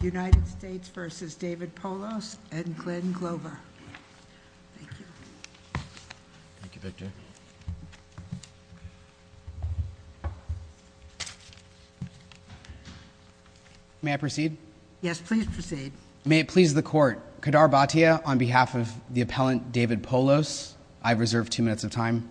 United States v. David Polos and Glenn Glover. May I proceed? Yes, please proceed. May it please the Court. Kadar Bhatia, on behalf of the appellant David Polos, I reserve two minutes of time.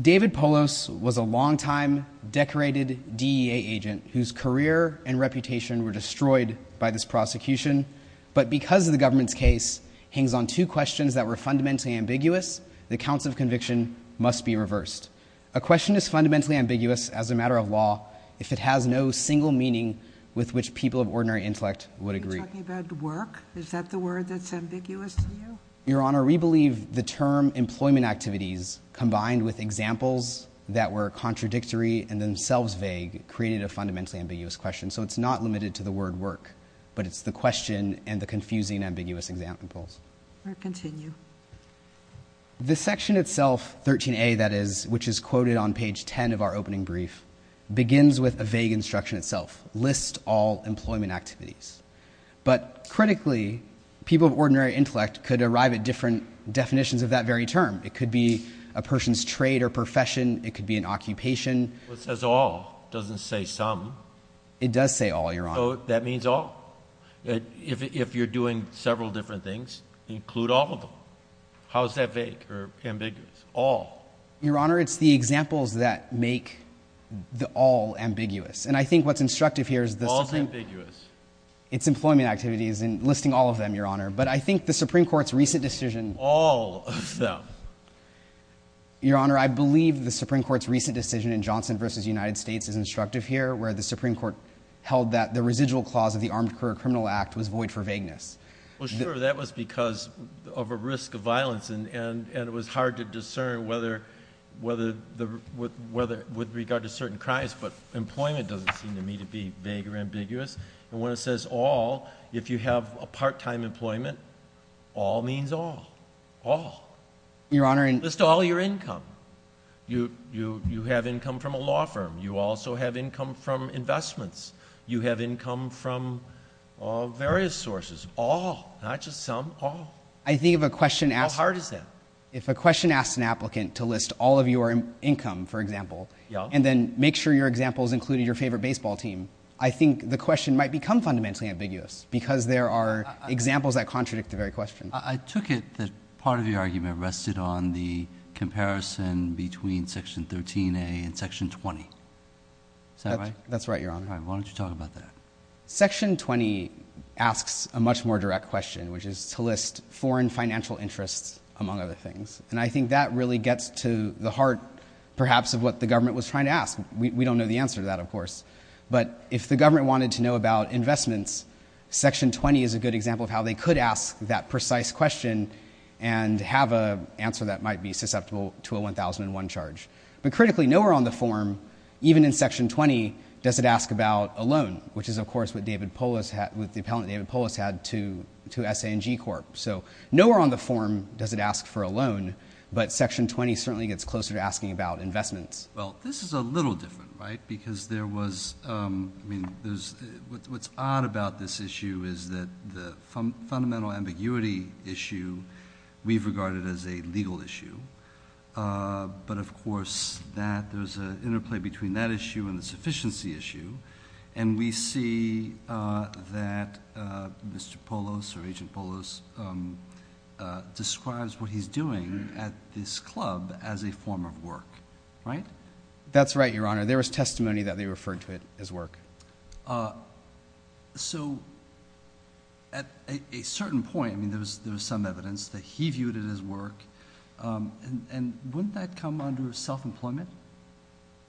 David Polos was a long-time decorated DEA agent whose career and reputation were destroyed by this prosecution, but because the government's case hangs on two questions that were fundamentally ambiguous, the counts of conviction must be reversed. A question is fundamentally ambiguous as a matter of law if it has no single meaning with which people of ordinary intellect would agree. Are you talking about work? Is that the word that's ambiguous to you? Your Honor, we believe the term employment activities, combined with examples that were contradictory and themselves vague, created a fundamentally ambiguous question, so it's not limited to the word work, but it's the question and the confusing, ambiguous examples. May it continue. The section itself, 13a, that is, which is quoted on page 10 of our opening brief, begins with a vague instruction itself, list all employment activities. But critically, people of ordinary intellect could arrive at different definitions of that very term. It could be a person's trade or profession. It could be an occupation. What says all doesn't say some. It does say all, Your Honor. So that means all? If you're doing several different things, include all of them. How is that vague or ambiguous? All? Your Honor, it's the examples that make the all ambiguous. And I think what's instructive here is the... Ambiguous. It's employment activities, and listing all of them, Your Honor. But I think the Supreme Court's recent decision... All of them. Your Honor, I believe the Supreme Court's recent decision in Johnson v. United States is instructive here, where the Supreme Court held that the residual clause of the Armed Career Criminal Act was void for vagueness. Well, sure, that was because of a risk of violence, and it was hard to discern with regard to certain crimes, but employment doesn't seem to me to be vague or ambiguous. And when it says all, if you have a part-time employment, all means all. All. Your Honor... List all your income. You have income from a law firm. You also have income from investments. You have income from various sources. All. Not just some. All. I think if a question asks... How hard is that? If a question asks an applicant to list all of your income, for example, and then make sure your example is included your favorite baseball team, I think the question might become fundamentally ambiguous, because there are examples that contradict the very question. I took it that part of your argument rested on the comparison between Section 13a and Section 20. Is that right? That's right, Your Honor. All right. Why don't you talk about that? Section 20 asks a much more direct question, which is to list foreign financial interests, among other things. And I think that really gets to the heart, perhaps, of what the government was trying to ask. We don't know the answer to that, of course. But if the government wanted to know about investments, Section 20 is a good example of how they could ask that precise question and have an answer that might be susceptible to a 1001 charge. But critically, nowhere on the form, even in Section 20, does it ask about a loan, which is, of course, what the appellant David Polis had to S.A. and G. Corp. So nowhere on the form does it ask for a loan, but Section 20 certainly gets closer to asking about investments. Well, this is a little different, right? Because what's odd about this issue is that the fundamental ambiguity issue we've regarded as a legal issue. But, of course, there's an interplay between that issue and the sufficiency issue. And we see that Mr. Polis or Agent Polis describes what he's doing at this club as a form of work, right? That's right, Your Honor. There was testimony that they referred to it as work. So at a certain point, I mean, there was some evidence that he viewed it as work. And wouldn't that come under self-employment?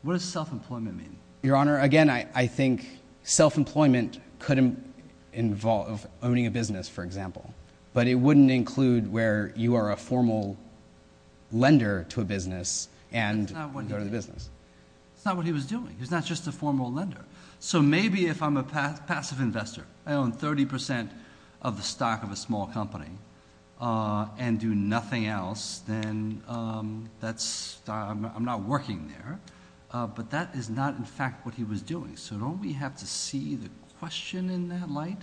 What does self-employment mean? Your Honor, again, I think self-employment could involve owning a business, for example. But it wouldn't include where you are a formal lender to a business and go to the business. That's not what he was doing. He's not just a formal lender. So maybe if I'm a passive investor, I own 30 percent of the stock of a small company and do nothing else, then I'm not working there. But that is not, in fact, what he was doing. So don't we have to see the question in that light?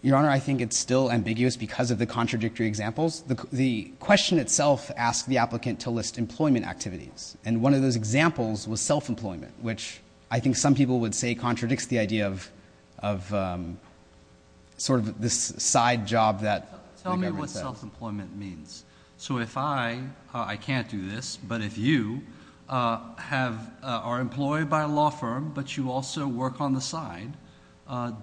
Your Honor, I think it's still ambiguous because of the contradictory examples. The question itself asked the applicant to list employment activities. And one of those examples was self-employment, which I think some people would say contradicts the idea of sort of this side job that the government says. That's what self-employment means. So if I can't do this, but if you are employed by a law firm, but you also work on the side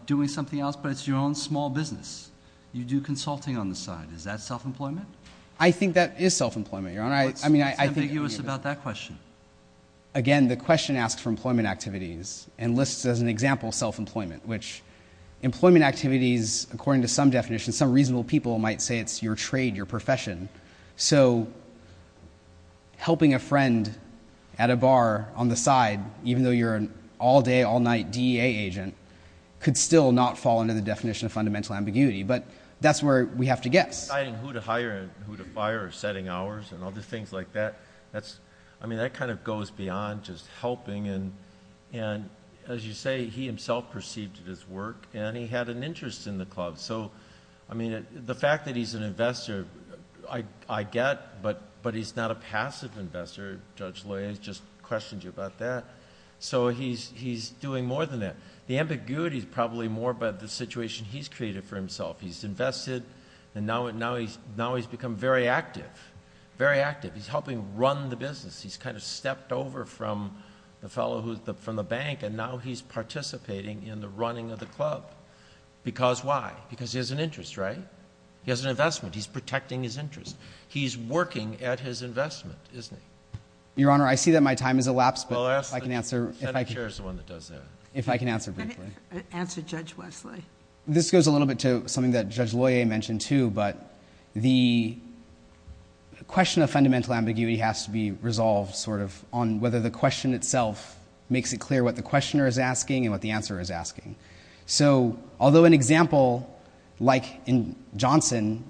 doing something else, but it's your own small business, you do consulting on the side, is that self-employment? I think that is self-employment, Your Honor. What's ambiguous about that question? Again, the question asks for employment activities and lists as an example self-employment, which employment activities, according to some definitions, some reasonable people might say it's your trade, your profession. So helping a friend at a bar on the side, even though you're an all-day, all-night DEA agent, could still not fall under the definition of fundamental ambiguity. But that's where we have to guess. Deciding who to hire and who to fire or setting hours and other things like that, I mean, that kind of goes beyond just helping. And as you say, he himself perceived it as work, and he had an interest in the club. So, I mean, the fact that he's an investor, I get, but he's not a passive investor. Judge Loyer just questioned you about that. So he's doing more than that. The ambiguity is probably more about the situation he's created for himself. He's invested, and now he's become very active, very active. He's helping run the business. He's kind of stepped over from the fellow who's from the bank, and now he's participating in the running of the club. Because why? Because he has an interest, right? He has an investment. He's protecting his interest. He's working at his investment, isn't he? Your Honor, I see that my time has elapsed, but if I can answer... Well, ask the... The Senate chair is the one that does that. If I can answer briefly. Answer Judge Wesley. This goes a little bit to something that Judge Loyer mentioned, too, but the question of fundamental ambiguity has to be resolved on whether the question itself makes it clear what the questioner is asking and what the answerer is asking. So although an example like in Johnson,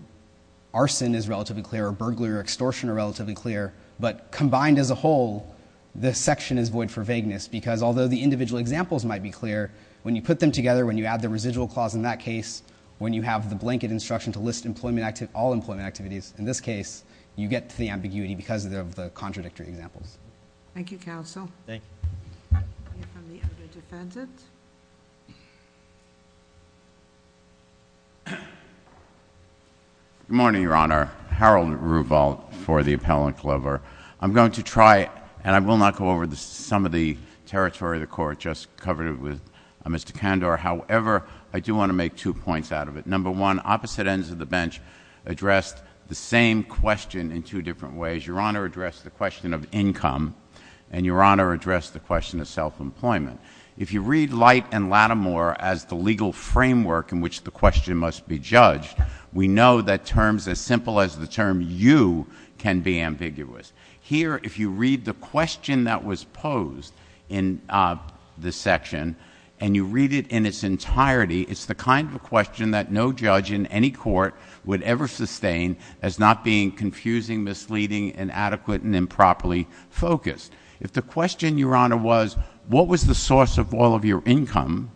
arson is relatively clear, or burglary or extortion are relatively clear, but combined as a whole, this section is void for vagueness because although the individual examples might be clear, when you put them together, when you add the residual clause in that case, when you have the blanket instruction to list all employment activities, in this case, you get to the ambiguity because of the contradictory examples. Thank you, Counsel. Thank you. We have the other defendant. Good morning, Your Honor. Harold Ruval for the Appellant Clover. I'm going to try, and I will not go over some of the territory of the court just covered with Mr. Kandor. However, I do want to make two points out of it. Number one, opposite ends of the bench addressed the same question in two different ways. Your Honor addressed the question of income, and Your Honor addressed the question of self-employment. If you read Light and Lattimore as the legal framework in which the question must be judged, we know that terms as simple as the term you can be ambiguous. Here, if you read the question that was posed in this section, and you read it in its entirety, it's the kind of question that no judge in any court would ever sustain as not being confusing, misleading, inadequate, and improperly focused. If the question, Your Honor, was what was the source of all of your income,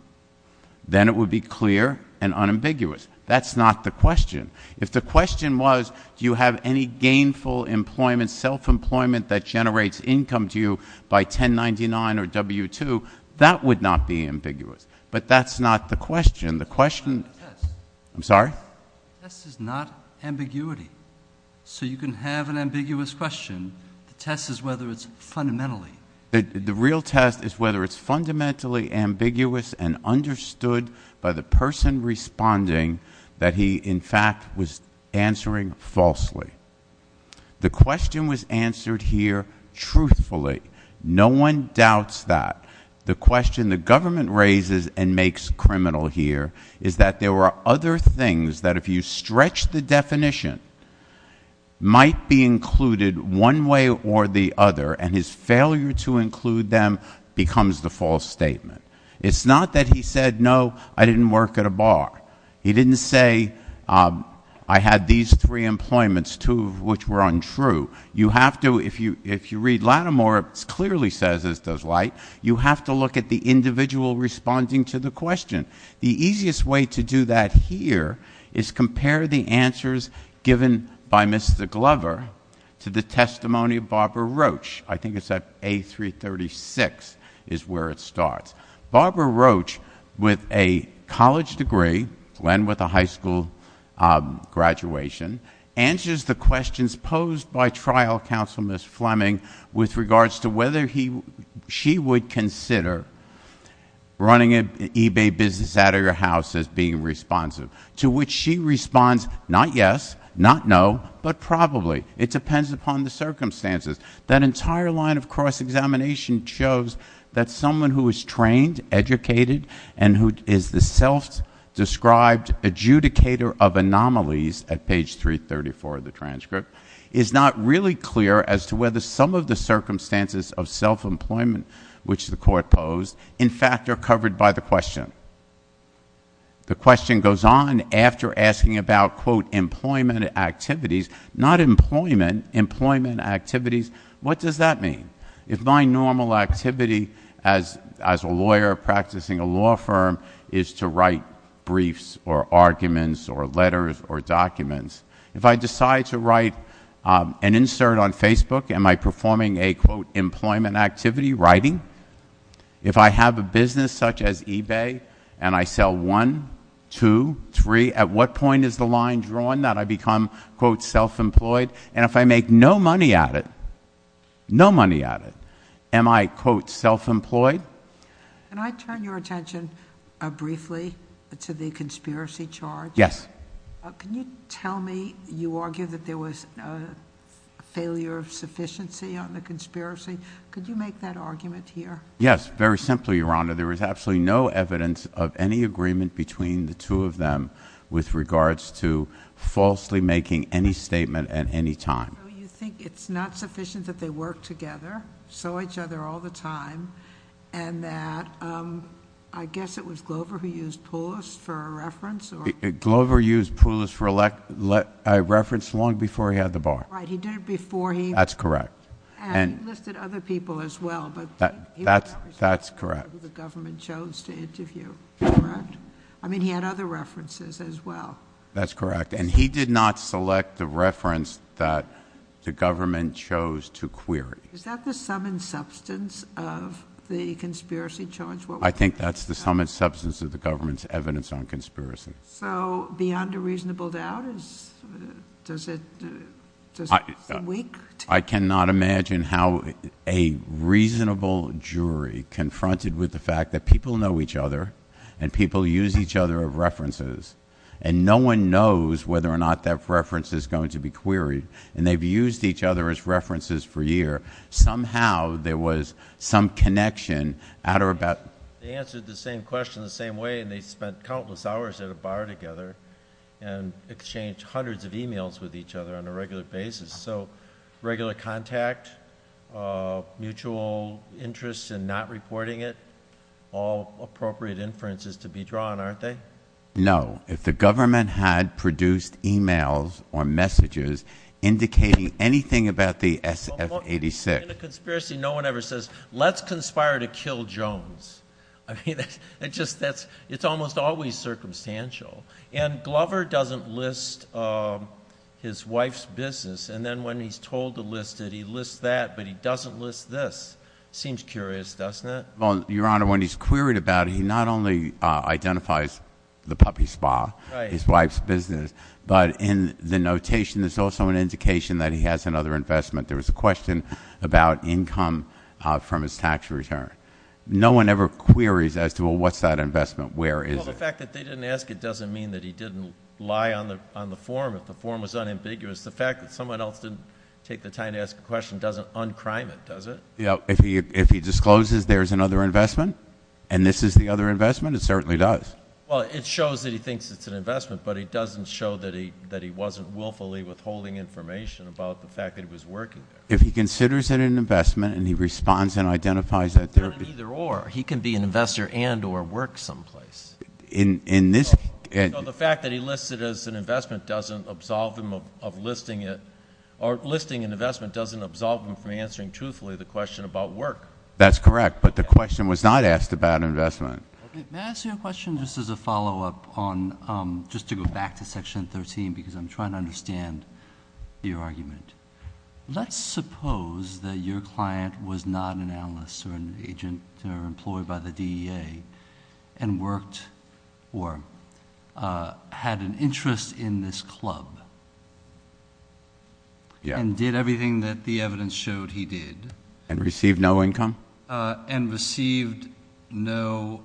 then it would be clear and unambiguous. That's not the question. If the question was do you have any gainful employment, self-employment that generates income to you by 1099 or W-2, that would not be ambiguous. But that's not the question. I'm sorry? The test is not ambiguity. So you can have an ambiguous question. The test is whether it's fundamentally. The real test is whether it's fundamentally ambiguous and understood by the person responding that he, in fact, was answering falsely. The question was answered here truthfully. No one doubts that. The question the government raises and makes criminal here is that there are other things that, if you stretch the definition, might be included one way or the other, and his failure to include them becomes the false statement. It's not that he said, No, I didn't work at a bar. He didn't say, I had these three employments, two of which were untrue. You have to, if you read Lattimore, it clearly says as does Light, you have to look at the individual responding to the question. The easiest way to do that here is compare the answers given by Mr. Glover to the testimony of Barbara Roach. I think it's at A336 is where it starts. Barbara Roach, with a college degree, went with a high school graduation, answers the questions posed by trial counsel, Ms. Fleming, with regards to whether she would consider running an eBay business out of your house as being responsive, to which she responds, Not yes, not no, but probably. It depends upon the circumstances. That entire line of cross-examination shows that someone who is trained, educated, and who is the self-described adjudicator of anomalies, at page 334 of the transcript, is not really clear as to whether some of the circumstances of self-employment which the court posed, in fact, are covered by the question. The question goes on after asking about, quote, employment activities, not employment, employment activities. What does that mean? If my normal activity as a lawyer practicing a law firm is to write briefs or arguments or letters or documents, if I decide to write an insert on Facebook, am I performing a, quote, employment activity, writing? If I have a business such as eBay and I sell one, two, three, at what point is the line drawn that I become, quote, self-employed? And if I make no money at it, no money at it, am I, quote, self-employed? Can I turn your attention briefly to the conspiracy charge? Yes. Can you tell me you argue that there was a failure of sufficiency on the conspiracy? Could you make that argument here? Yes, very simply, Your Honor. There is absolutely no evidence of any agreement between the two of them with regards to falsely making any statement at any time. So you think it's not sufficient that they work together, sell each other all the time, and that I guess it was Glover who used Poulos for a reference? Glover used Poulos for a reference long before he had the bar. Right, he did it before he... That's correct. And he listed other people as well. That's correct. The government chose to interview, correct? I mean, he had other references as well. That's correct. And he did not select the reference that the government chose to query. Is that the sum and substance of the conspiracy charge? I think that's the sum and substance of the government's evidence on conspiracy. So beyond a reasonable doubt, does it... I cannot imagine how a reasonable jury confronted with the fact that people know each other and people use each other as references and no one knows whether or not that reference is going to be queried and they've used each other as references for years. Somehow there was some connection out or about... They answered the same question the same way and they spent countless hours at a bar together and exchanged hundreds of e-mails with each other on a regular basis. So regular contact, mutual interest in not reporting it, all appropriate inferences to be drawn, aren't they? No. If the government had produced e-mails or messages indicating anything about the SF-86... In a conspiracy, no one ever says, let's conspire to kill Jones. I mean, it's almost always circumstantial. And Glover doesn't list his wife's business and then when he's told to list it, he lists that, but he doesn't list this. Seems curious, doesn't it? Well, Your Honor, when he's queried about it, he not only identifies the puppy spa, his wife's business, but in the notation there's also an indication that he has another investment. There was a question about income from his tax return. No one ever queries as to, well, what's that investment, where is it? Well, the fact that they didn't ask it doesn't mean that he didn't lie on the form. If the form was unambiguous, the fact that someone else didn't take the time to ask the question doesn't un-crime it, does it? Yeah, if he discloses there's another investment and this is the other investment, it certainly does. Well, it shows that he thinks it's an investment, but it doesn't show that he wasn't willfully withholding information about the fact that he was working there. If he considers it an investment and he responds and identifies that there is... Then either or, he can be an investor and or work someplace. In this... No, the fact that he lists it as an investment doesn't absolve him of listing it as an investment doesn't absolve him from answering truthfully the question about work. That's correct, but the question was not asked about investment. May I ask you a question just as a follow-up on, just to go back to Section 13, because I'm trying to understand your argument. Let's suppose that your client was not an analyst or an agent or employed by the DEA and worked or had an interest in this club and did everything that the evidence showed he did. And received no income? And received no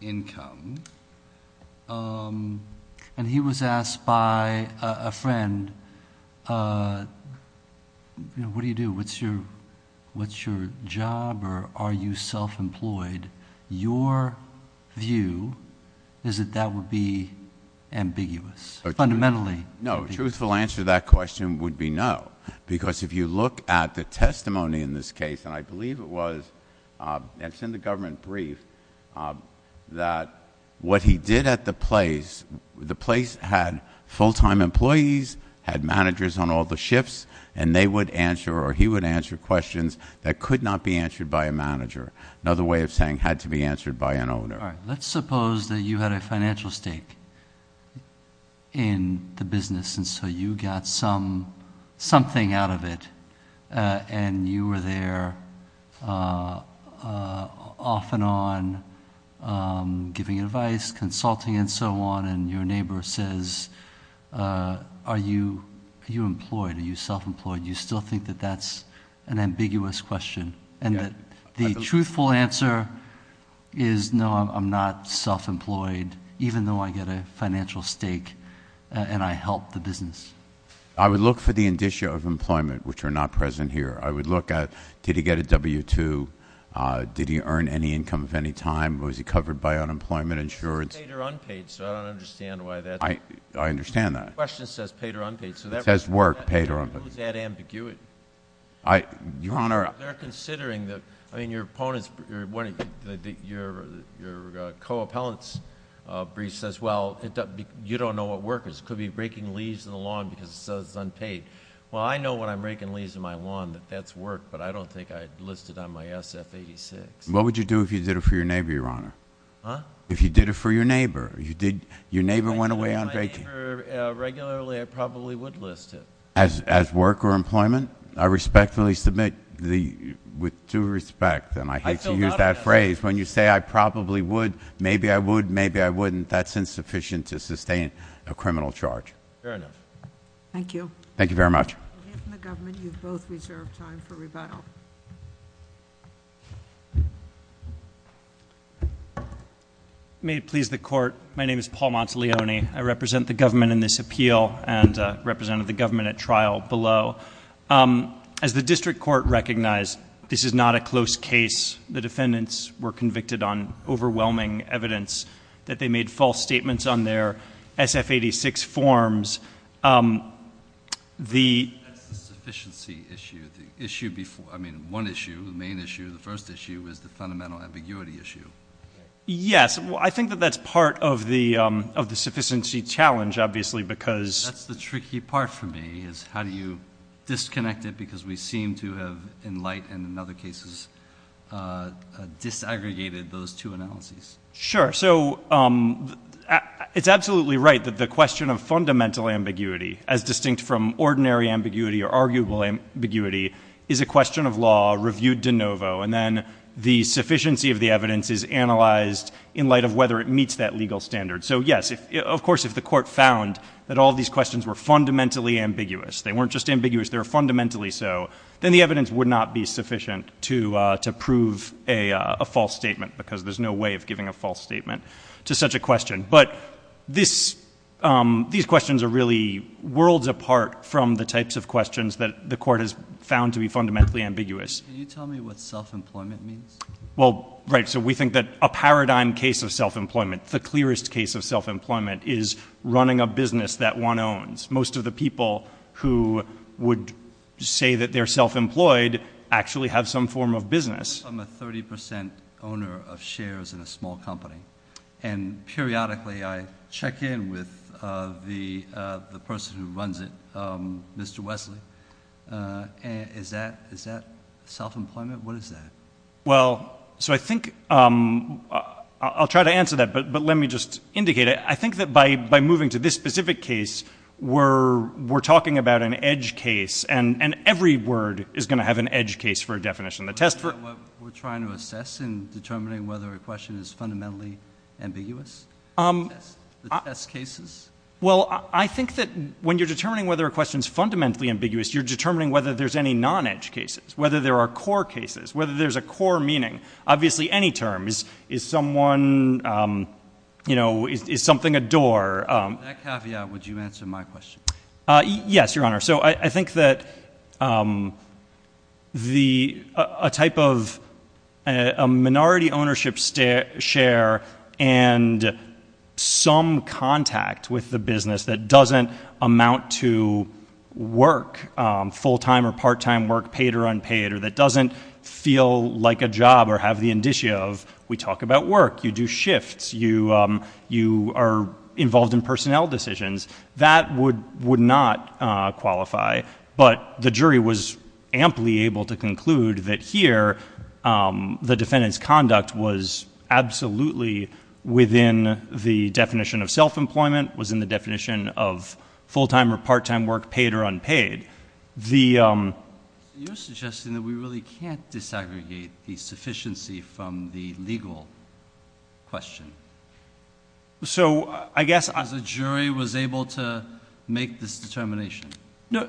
income. And he was asked by a friend, what do you do? What's your job or are you self-employed? Your view is that that would be ambiguous, fundamentally. No, truthful answer to that question would be no. Because if you look at the testimony in this case, and I believe it was, and it's in the government brief, that what he did at the place, the place had full-time employees, had managers on all the shifts, and they would answer or he would answer questions that could not be answered by a manager. Another way of saying had to be answered by an owner. All right. Let's suppose that you had a financial stake in the business, and so you got something out of it and you were there off and on giving advice, consulting and so on, and your neighbor says, are you employed, are you self-employed? Do you still think that that's an ambiguous question? And the truthful answer is no, I'm not self-employed, even though I get a financial stake and I help the business. I would look for the indicia of employment, which are not present here. I would look at did he get a W-2, did he earn any income at any time, was he covered by unemployment insurance? It's paid or unpaid, so I don't understand why that's. I understand that. It says work, paid or unpaid. What is that ambiguity? Your Honor. They're considering that. I mean, your opponent's, your co-appellant's brief says, well, you don't know what work is. It could be raking leaves in the lawn because it says unpaid. Well, I know when I'm raking leaves in my lawn that that's work, but I don't think I'd list it on my SF-86. What would you do if you did it for your neighbor, Your Honor? Huh? If you did it for your neighbor. Your neighbor went away unpaid. If I did it for my neighbor regularly, I probably would list it. As work or employment, I respectfully submit the, with due respect, and I hate to use that phrase, when you say I probably would, maybe I would, maybe I wouldn't, that's insufficient to sustain a criminal charge. Fair enough. Thank you. Thank you very much. On behalf of the government, you've both reserved time for rebuttal. May it please the Court, my name is Paul Monteleone. I represent the government in this appeal and represented the government at trial below. As the district court recognized, this is not a close case. The defendants were convicted on overwhelming evidence that they made false statements on their SF-86 forms. That's the sufficiency issue. The issue before, I mean, one issue, the main issue, the first issue is the fundamental ambiguity issue. Yes. I think that that's part of the sufficiency challenge, obviously, because That's the tricky part for me, is how do you disconnect it because we seem to have, in light and in other cases, disaggregated those two analyses. Sure. So it's absolutely right that the question of fundamental ambiguity, as distinct from ordinary ambiguity or arguable ambiguity, is a question of law, reviewed de novo, and then the sufficiency of the evidence is analyzed in light of whether it meets that legal standard. So, yes, of course, if the court found that all these questions were fundamentally ambiguous, they weren't just ambiguous, they were fundamentally so, then the evidence would not be sufficient to prove a false statement, because there's no way of giving a false statement to such a question. But these questions are really worlds apart from the types of questions that the court has found to be fundamentally ambiguous. Can you tell me what self-employment means? Well, right, so we think that a paradigm case of self-employment, the clearest case of self-employment is running a business that one owns. Most of the people who would say that they're self-employed actually have some form of business. I'm a 30% owner of shares in a small company, and periodically I check in with the person who runs it, Mr. Wesley. Is that self-employment? What is that? Well, so I think I'll try to answer that, but let me just indicate it. I think that by moving to this specific case, we're talking about an edge case, and every word is going to have an edge case for a definition. Do you know what we're trying to assess in determining whether a question is fundamentally ambiguous? The test cases? Well, I think that when you're determining whether a question is fundamentally ambiguous, you're determining whether there's any non-edge cases, whether there are core cases, whether there's a core meaning. Obviously, any term is someone, you know, is something a door. That caveat, would you answer my question? Yes, Your Honor. So I think that a type of minority ownership share and some contact with the business that doesn't amount to work, full-time or part-time work, paid or unpaid, or that doesn't feel like a job or have the indicia of we talk about work, you do shifts, you are involved in personnel decisions, that would not qualify, but the jury was amply able to conclude that here, the defendant's conduct was absolutely within the definition of self-employment, was in the definition of full-time or part-time work, paid or unpaid. You're suggesting that we really can't disaggregate the sufficiency from the legal question. So I guess... The jury was able to make this determination.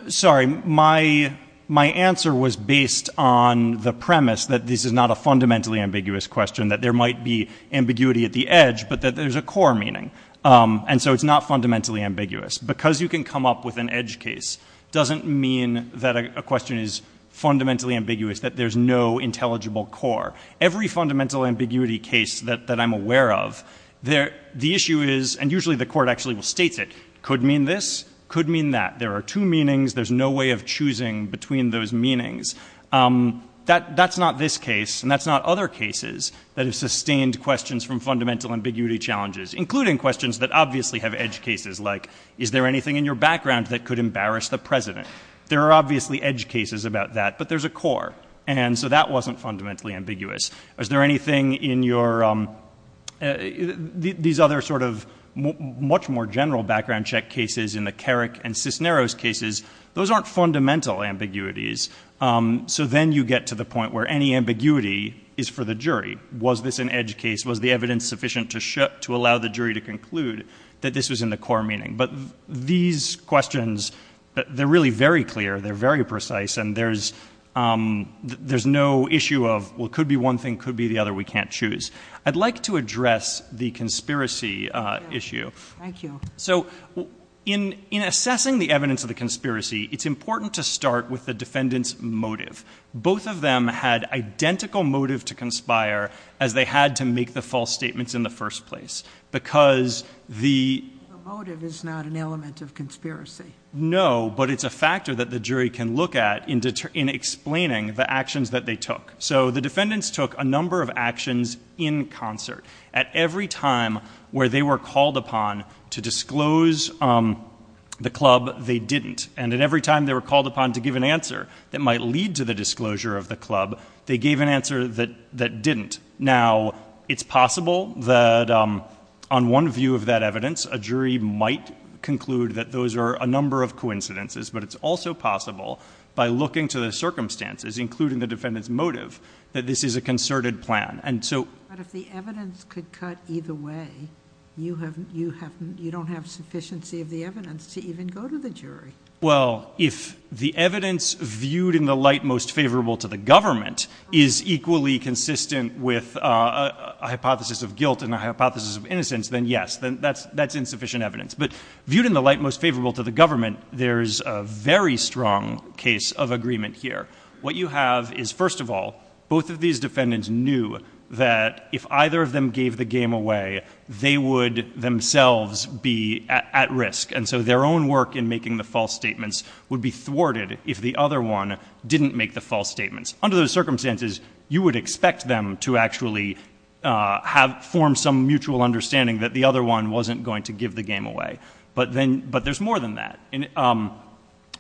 Sorry, my answer was based on the premise that this is not a fundamentally ambiguous question, that there might be ambiguity at the edge, but that there's a core meaning. And so it's not fundamentally ambiguous. Because you can come up with an edge case doesn't mean that a question is fundamentally ambiguous, that there's no intelligible core. Every fundamental ambiguity case that I'm aware of, the issue is, and usually the court actually will state it, could mean this, could mean that. There are two meanings. There's no way of choosing between those meanings. That's not this case, and that's not other cases that have sustained questions from fundamental ambiguity challenges, including questions that obviously have edge cases like, is there anything in your background that could embarrass the president? There are obviously edge cases about that, but there's a core. And so that wasn't fundamentally ambiguous. Is there anything in your... These other sort of much more general background check cases in the Carrick and Cisneros cases, those aren't fundamental ambiguities. So then you get to the point where any ambiguity is for the jury. Was this an edge case? Was the evidence sufficient to allow the jury to conclude that this was in the core meaning? But these questions, they're really very clear, they're very precise, and there's no issue of, well, it could be one thing, could be the other, we can't choose. I'd like to address the conspiracy issue. Thank you. So in assessing the evidence of the conspiracy, it's important to start with the defendant's motive. Both of them had identical motive to conspire as they had to make the false statements in the first place, because the... The motive is not an element of conspiracy. No, but it's a factor that the jury can look at in explaining the actions that they took. So the defendants took a number of actions in concert. At every time where they were called upon to disclose the club, they didn't. And at every time they were called upon to give an answer that might lead to the disclosure of the club, they gave an answer that didn't. Now, it's possible that on one view of that evidence, a jury might conclude that those are a number of coincidences, but it's also possible by looking to the circumstances, including the defendant's motive, that this is a concerted plan. But if the evidence could cut either way, you don't have sufficiency of the evidence to even go to the jury. Well, if the evidence viewed in the light most favorable to the government is equally consistent with a hypothesis of guilt and a hypothesis of innocence, then yes, that's insufficient evidence. But viewed in the light most favorable to the government, there's a very strong case of agreement here. What you have is, first of all, both of these defendants knew that if either of them gave the game away, they would themselves be at risk. And so their own work in making the false statements would be thwarted if the other one didn't make the false statements. Under those circumstances, you would expect them to actually form some mutual understanding that the other one wasn't going to give the game away. But there's more than that.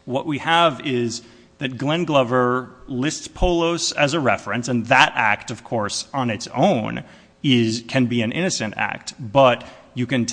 What we have is that Glenn Glover lists Polos as a reference, and that act, of course, on its own, can be an innocent act. He had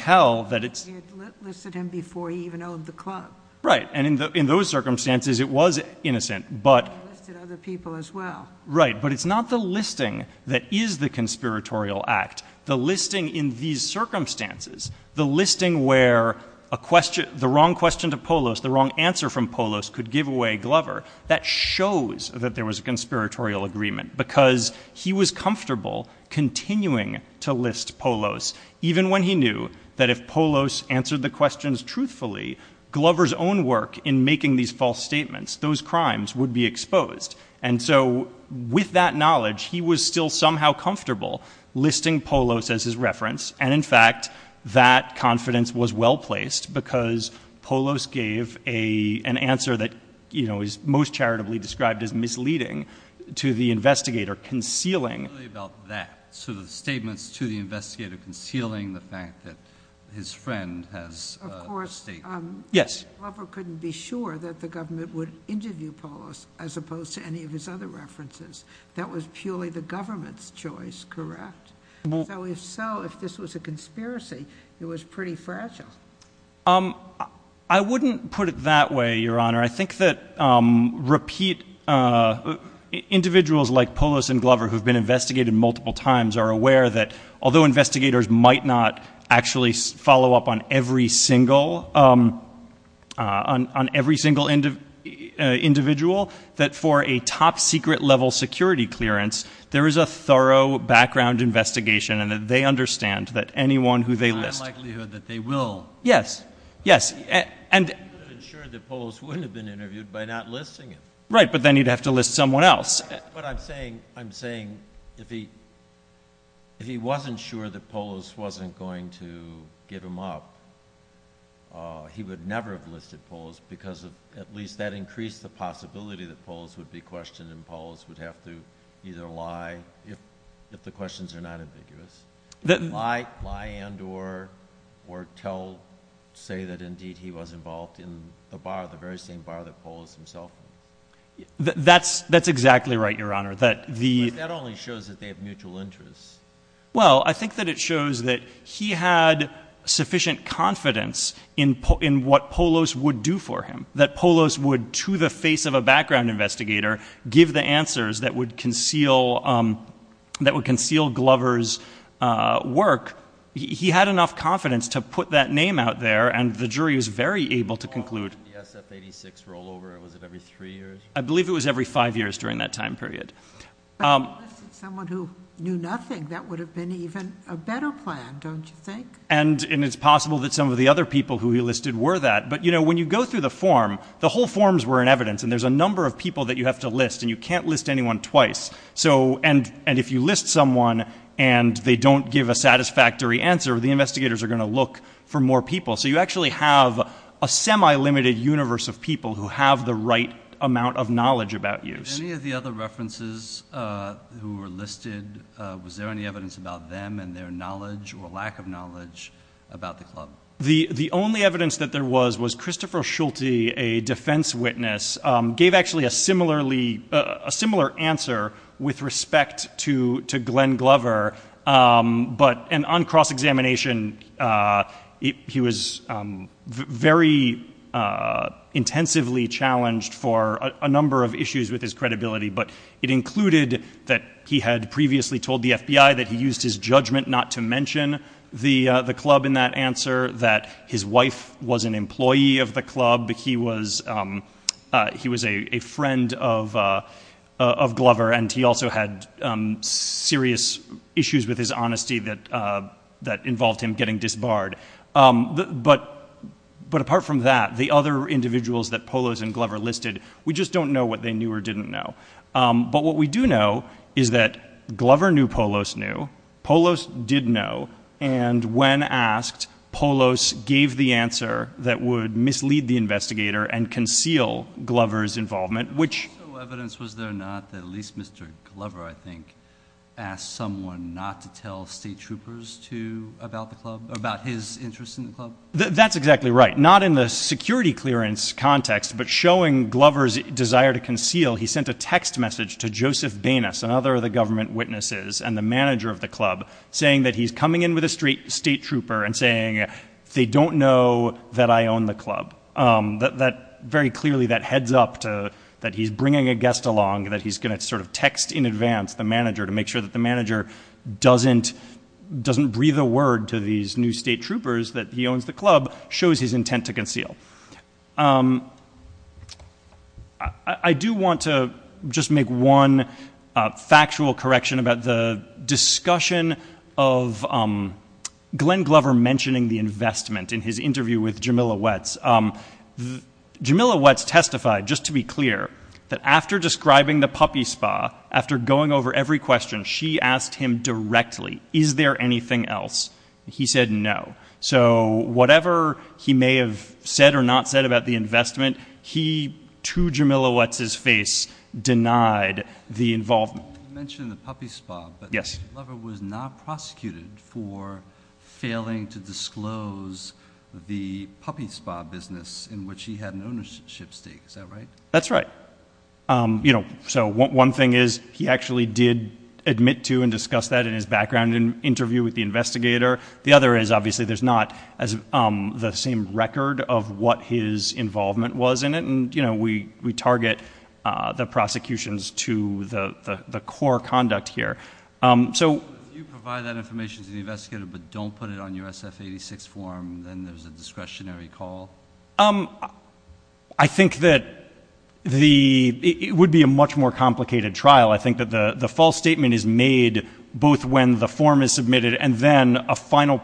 listed him before he even owned the club. Right, and in those circumstances, it was innocent. He listed other people as well. Right, but it's not the listing that is the conspiratorial act. The listing in these circumstances, the listing where the wrong question to Polos, the wrong answer from Polos, could give away Glover, that shows that there was a conspiratorial agreement because he was comfortable continuing to list Polos, even when he knew that if Polos answered the questions truthfully, Glover's own work in making these false statements, those crimes would be exposed. And so with that knowledge, he was still somehow comfortable listing Polos as his reference. And, in fact, that confidence was well-placed because Polos gave an answer that is most charitably described as misleading to the investigator, concealing— It's really about that, so the statements to the investigator concealing the fact that his friend has— Of course, Glover couldn't be sure that the government would interview Polos as opposed to any of his other references. That was purely the government's choice, correct? So if so, if this was a conspiracy, it was pretty fragile. I wouldn't put it that way, Your Honor. I think that, repeat, individuals like Polos and Glover who have been investigated multiple times are aware that, although investigators might not actually follow up on every single individual, that for a top-secret-level security clearance, there is a thorough background investigation and that they understand that anyone who they list— There's a high likelihood that they will. Yes, yes, and— He would have ensured that Polos wouldn't have been interviewed by not listing him. Right, but then he'd have to list someone else. That's what I'm saying. I'm saying if he wasn't sure that Polos wasn't going to give him up, he would never have listed Polos because, at least, that increased the possibility that Polos would be questioned and Polos would have to either lie, if the questions are not ambiguous, lie and or say that, indeed, he was involved in the bar, the very same bar that Polos himself was. That's exactly right, Your Honor. But that only shows that they have mutual interests. Well, I think that it shows that he had sufficient confidence in what Polos would do for him, that Polos would, to the face of a background investigator, give the answers that would conceal Glover's work. He had enough confidence to put that name out there, and the jury was very able to conclude— Was the SF-86 rollover, was it every three years? I believe it was every five years during that time period. But if he listed someone who knew nothing, that would have been even a better plan, don't you think? And it's possible that some of the other people who he listed were that. But, you know, when you go through the form, the whole forms were in evidence, and there's a number of people that you have to list, and you can't list anyone twice. And if you list someone and they don't give a satisfactory answer, the investigators are going to look for more people. So you actually have a semi-limited universe of people who have the right amount of knowledge about you. Of any of the other references who were listed, was there any evidence about them and their knowledge or lack of knowledge about the club? The only evidence that there was was Christopher Schulte, a defense witness, gave actually a similar answer with respect to Glenn Glover, but on cross-examination, he was very intensively challenged for a number of issues with his credibility. But it included that he had previously told the FBI that he used his judgment not to mention the club in that answer, that his wife was an employee of the club, he was a friend of Glover, and he also had serious issues with his honesty that involved him getting disbarred. But apart from that, the other individuals that Polos and Glover listed, we just don't know what they knew or didn't know. But what we do know is that Glover knew Polos knew, Polos did know, and when asked, Polos gave the answer that would mislead the investigator and conceal Glover's involvement. No evidence was there not that at least Mr. Glover, I think, asked someone not to tell state troopers about the club, about his interest in the club? That's exactly right. Not in the security clearance context, but showing Glover's desire to conceal, he sent a text message to Joseph Banas, another of the government witnesses and the manager of the club, saying that he's coming in with a state trooper and saying they don't know that I own the club. Very clearly, that heads up that he's bringing a guest along, that he's going to text in advance the manager to make sure that the manager doesn't breathe a word to these new state troopers that he owns the club, shows his intent to conceal. I do want to just make one factual correction about the discussion of Glenn Glover mentioning the investment in his interview with Jamila Wetz. Jamila Wetz testified, just to be clear, that after describing the puppy spa, after going over every question, she asked him directly, is there anything else? He said no. So whatever he may have said or not said about the investment, he, to Jamila Wetz's face, denied the involvement. You mentioned the puppy spa. Yes. Glover was not prosecuted for failing to disclose the puppy spa business in which he had an ownership stake. Is that right? That's right. So one thing is he actually did admit to and discuss that in his background interview with the investigator. The other is obviously there's not the same record of what his involvement was in it, and we target the prosecutions to the core conduct here. If you provide that information to the investigator but don't put it on your SF-86 form, then there's a discretionary call? I think that it would be a much more complicated trial. I think that the false statement is made both when the form is submitted and then a final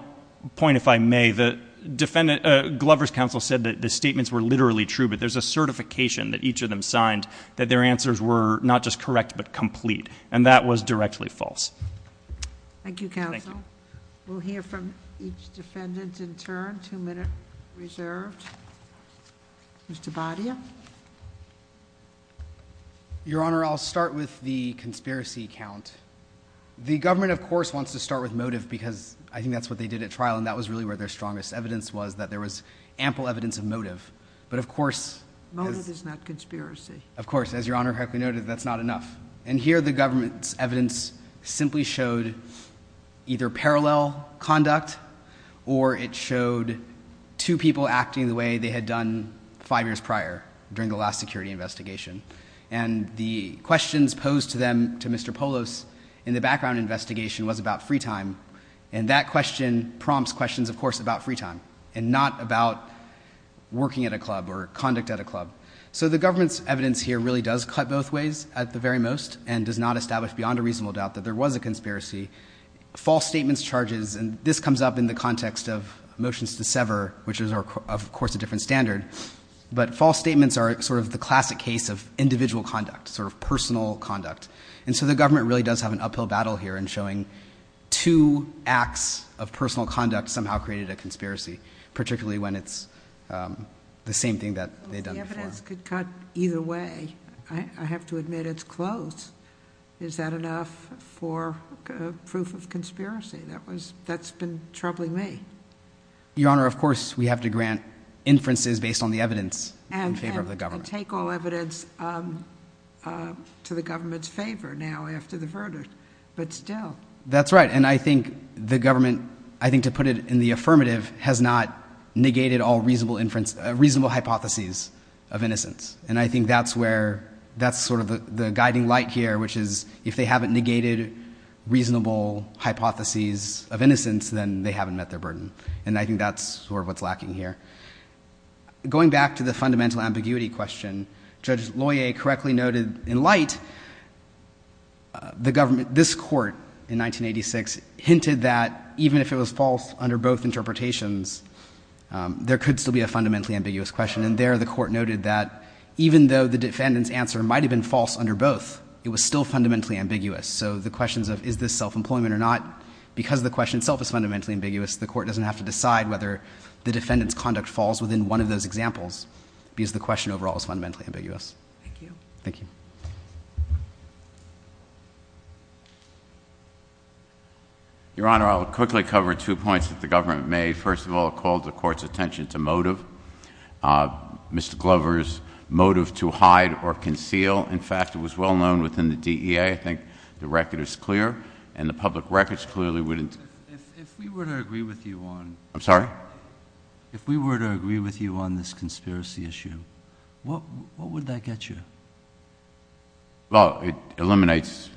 point, if I may, Glover's counsel said that the statements were literally true, but there's a certification that each of them signed that their answers were not just correct but complete, and that was directly false. Thank you, counsel. We'll hear from each defendant in turn, two minutes reserved. Mr. Badia? Your Honor, I'll start with the conspiracy count. The government, of course, wants to start with motive because I think that's what they did at trial, and that was really where their strongest evidence was, that there was ample evidence of motive. But of course... Motive is not conspiracy. Of course. As Your Honor correctly noted, that's not enough. And here the government's evidence simply showed either parallel conduct or it showed two people acting the way they had done five years prior during the last security investigation. And the questions posed to them, to Mr. Polos, in the background investigation was about free time, and that question prompts questions, of course, about free time and not about working at a club or conduct at a club. So the government's evidence here really does cut both ways at the very most and does not establish beyond a reasonable doubt that there was a conspiracy. False statements charges, and this comes up in the context of motions to sever, which is, of course, a different standard. But false statements are sort of the classic case of individual conduct, sort of personal conduct. And so the government really does have an uphill battle here in showing two acts of personal conduct somehow created a conspiracy, particularly when it's the same thing that they'd done before. The evidence could cut either way. I have to admit it's close. Is that enough for proof of conspiracy? That's been troubling me. Your Honor, of course, we have to grant inferences based on the evidence in favor of the government. And take all evidence to the government's favor now after the verdict, but still. That's right, and I think the government, I think to put it in the affirmative, has not negated all reasonable hypotheses of innocence. And I think that's sort of the guiding light here, which is if they haven't negated reasonable hypotheses of innocence, then they haven't met their burden. And I think that's sort of what's lacking here. Going back to the fundamental ambiguity question, Judge Loyer correctly noted in light, this court in 1986 hinted that even if it was false under both interpretations, there could still be a fundamentally ambiguous question. And there the court noted that even though the defendant's answer might have been false under both, it was still fundamentally ambiguous. So the questions of is this self-employment or not, because the question itself is fundamentally ambiguous, the court doesn't have to decide whether the defendant's conduct falls within one of those examples because the question overall is fundamentally ambiguous. Thank you. Thank you. Your Honor, I'll quickly cover two points that the government made. First of all, it called the court's attention to motive, Mr. Glover's motive to hide or conceal. In fact, it was well known within the DEA, I think the record is clear, and the public records clearly wouldn't. If we were to agree with you on this conspiracy issue, what would that get you? Well, it eliminates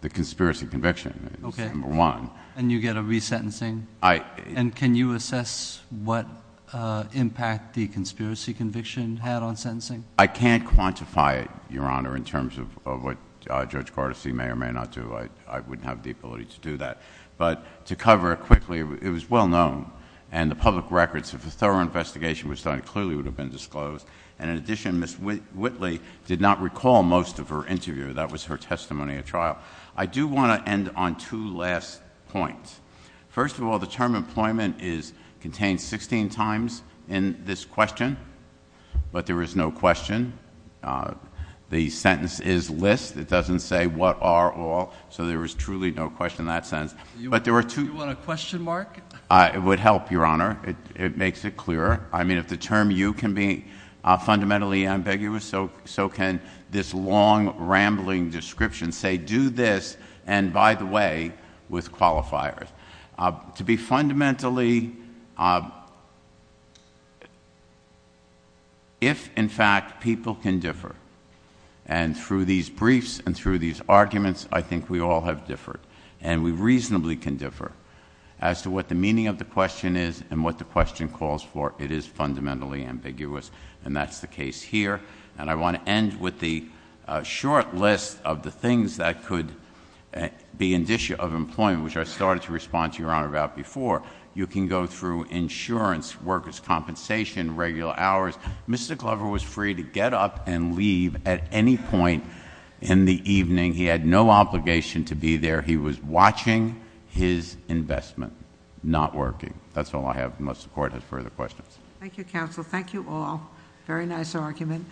the conspiracy conviction. Okay. It's number one. And you get a resentencing? And can you assess what impact the conspiracy conviction had on sentencing? I can't quantify it, Your Honor, in terms of what Judge Gordyce may or may not do. I wouldn't have the ability to do that. But to cover it quickly, it was well known. And the public records, if a thorough investigation was done, it clearly would have been disclosed. And in addition, Ms. Whitley did not recall most of her interview. That was her testimony at trial. I do want to end on two last points. First of all, the term employment is contained 16 times in this question. But there is no question. The sentence is list. It doesn't say what are all. So there is truly no question in that sense. Do you want a question mark? It would help, Your Honor. It makes it clearer. I mean, if the term you can be fundamentally ambiguous, so can this long, rambling description say do this, and by the way, with qualifiers. To be fundamentally, if in fact people can differ, and through these briefs and through these arguments, I think we all have differed. And we reasonably can differ as to what the meaning of the question is and what the question calls for. It is fundamentally ambiguous. And that's the case here. And I want to end with the short list of the things that could be an issue of employment, which I started to respond to Your Honor about before. You can go through insurance, workers' compensation, regular hours. Mr. Glover was free to get up and leave at any point in the evening. He had no obligation to be there. He was watching his investment not working. That's all I have unless the Court has further questions. Thank you, Counsel. Thank you all. Very nice argument.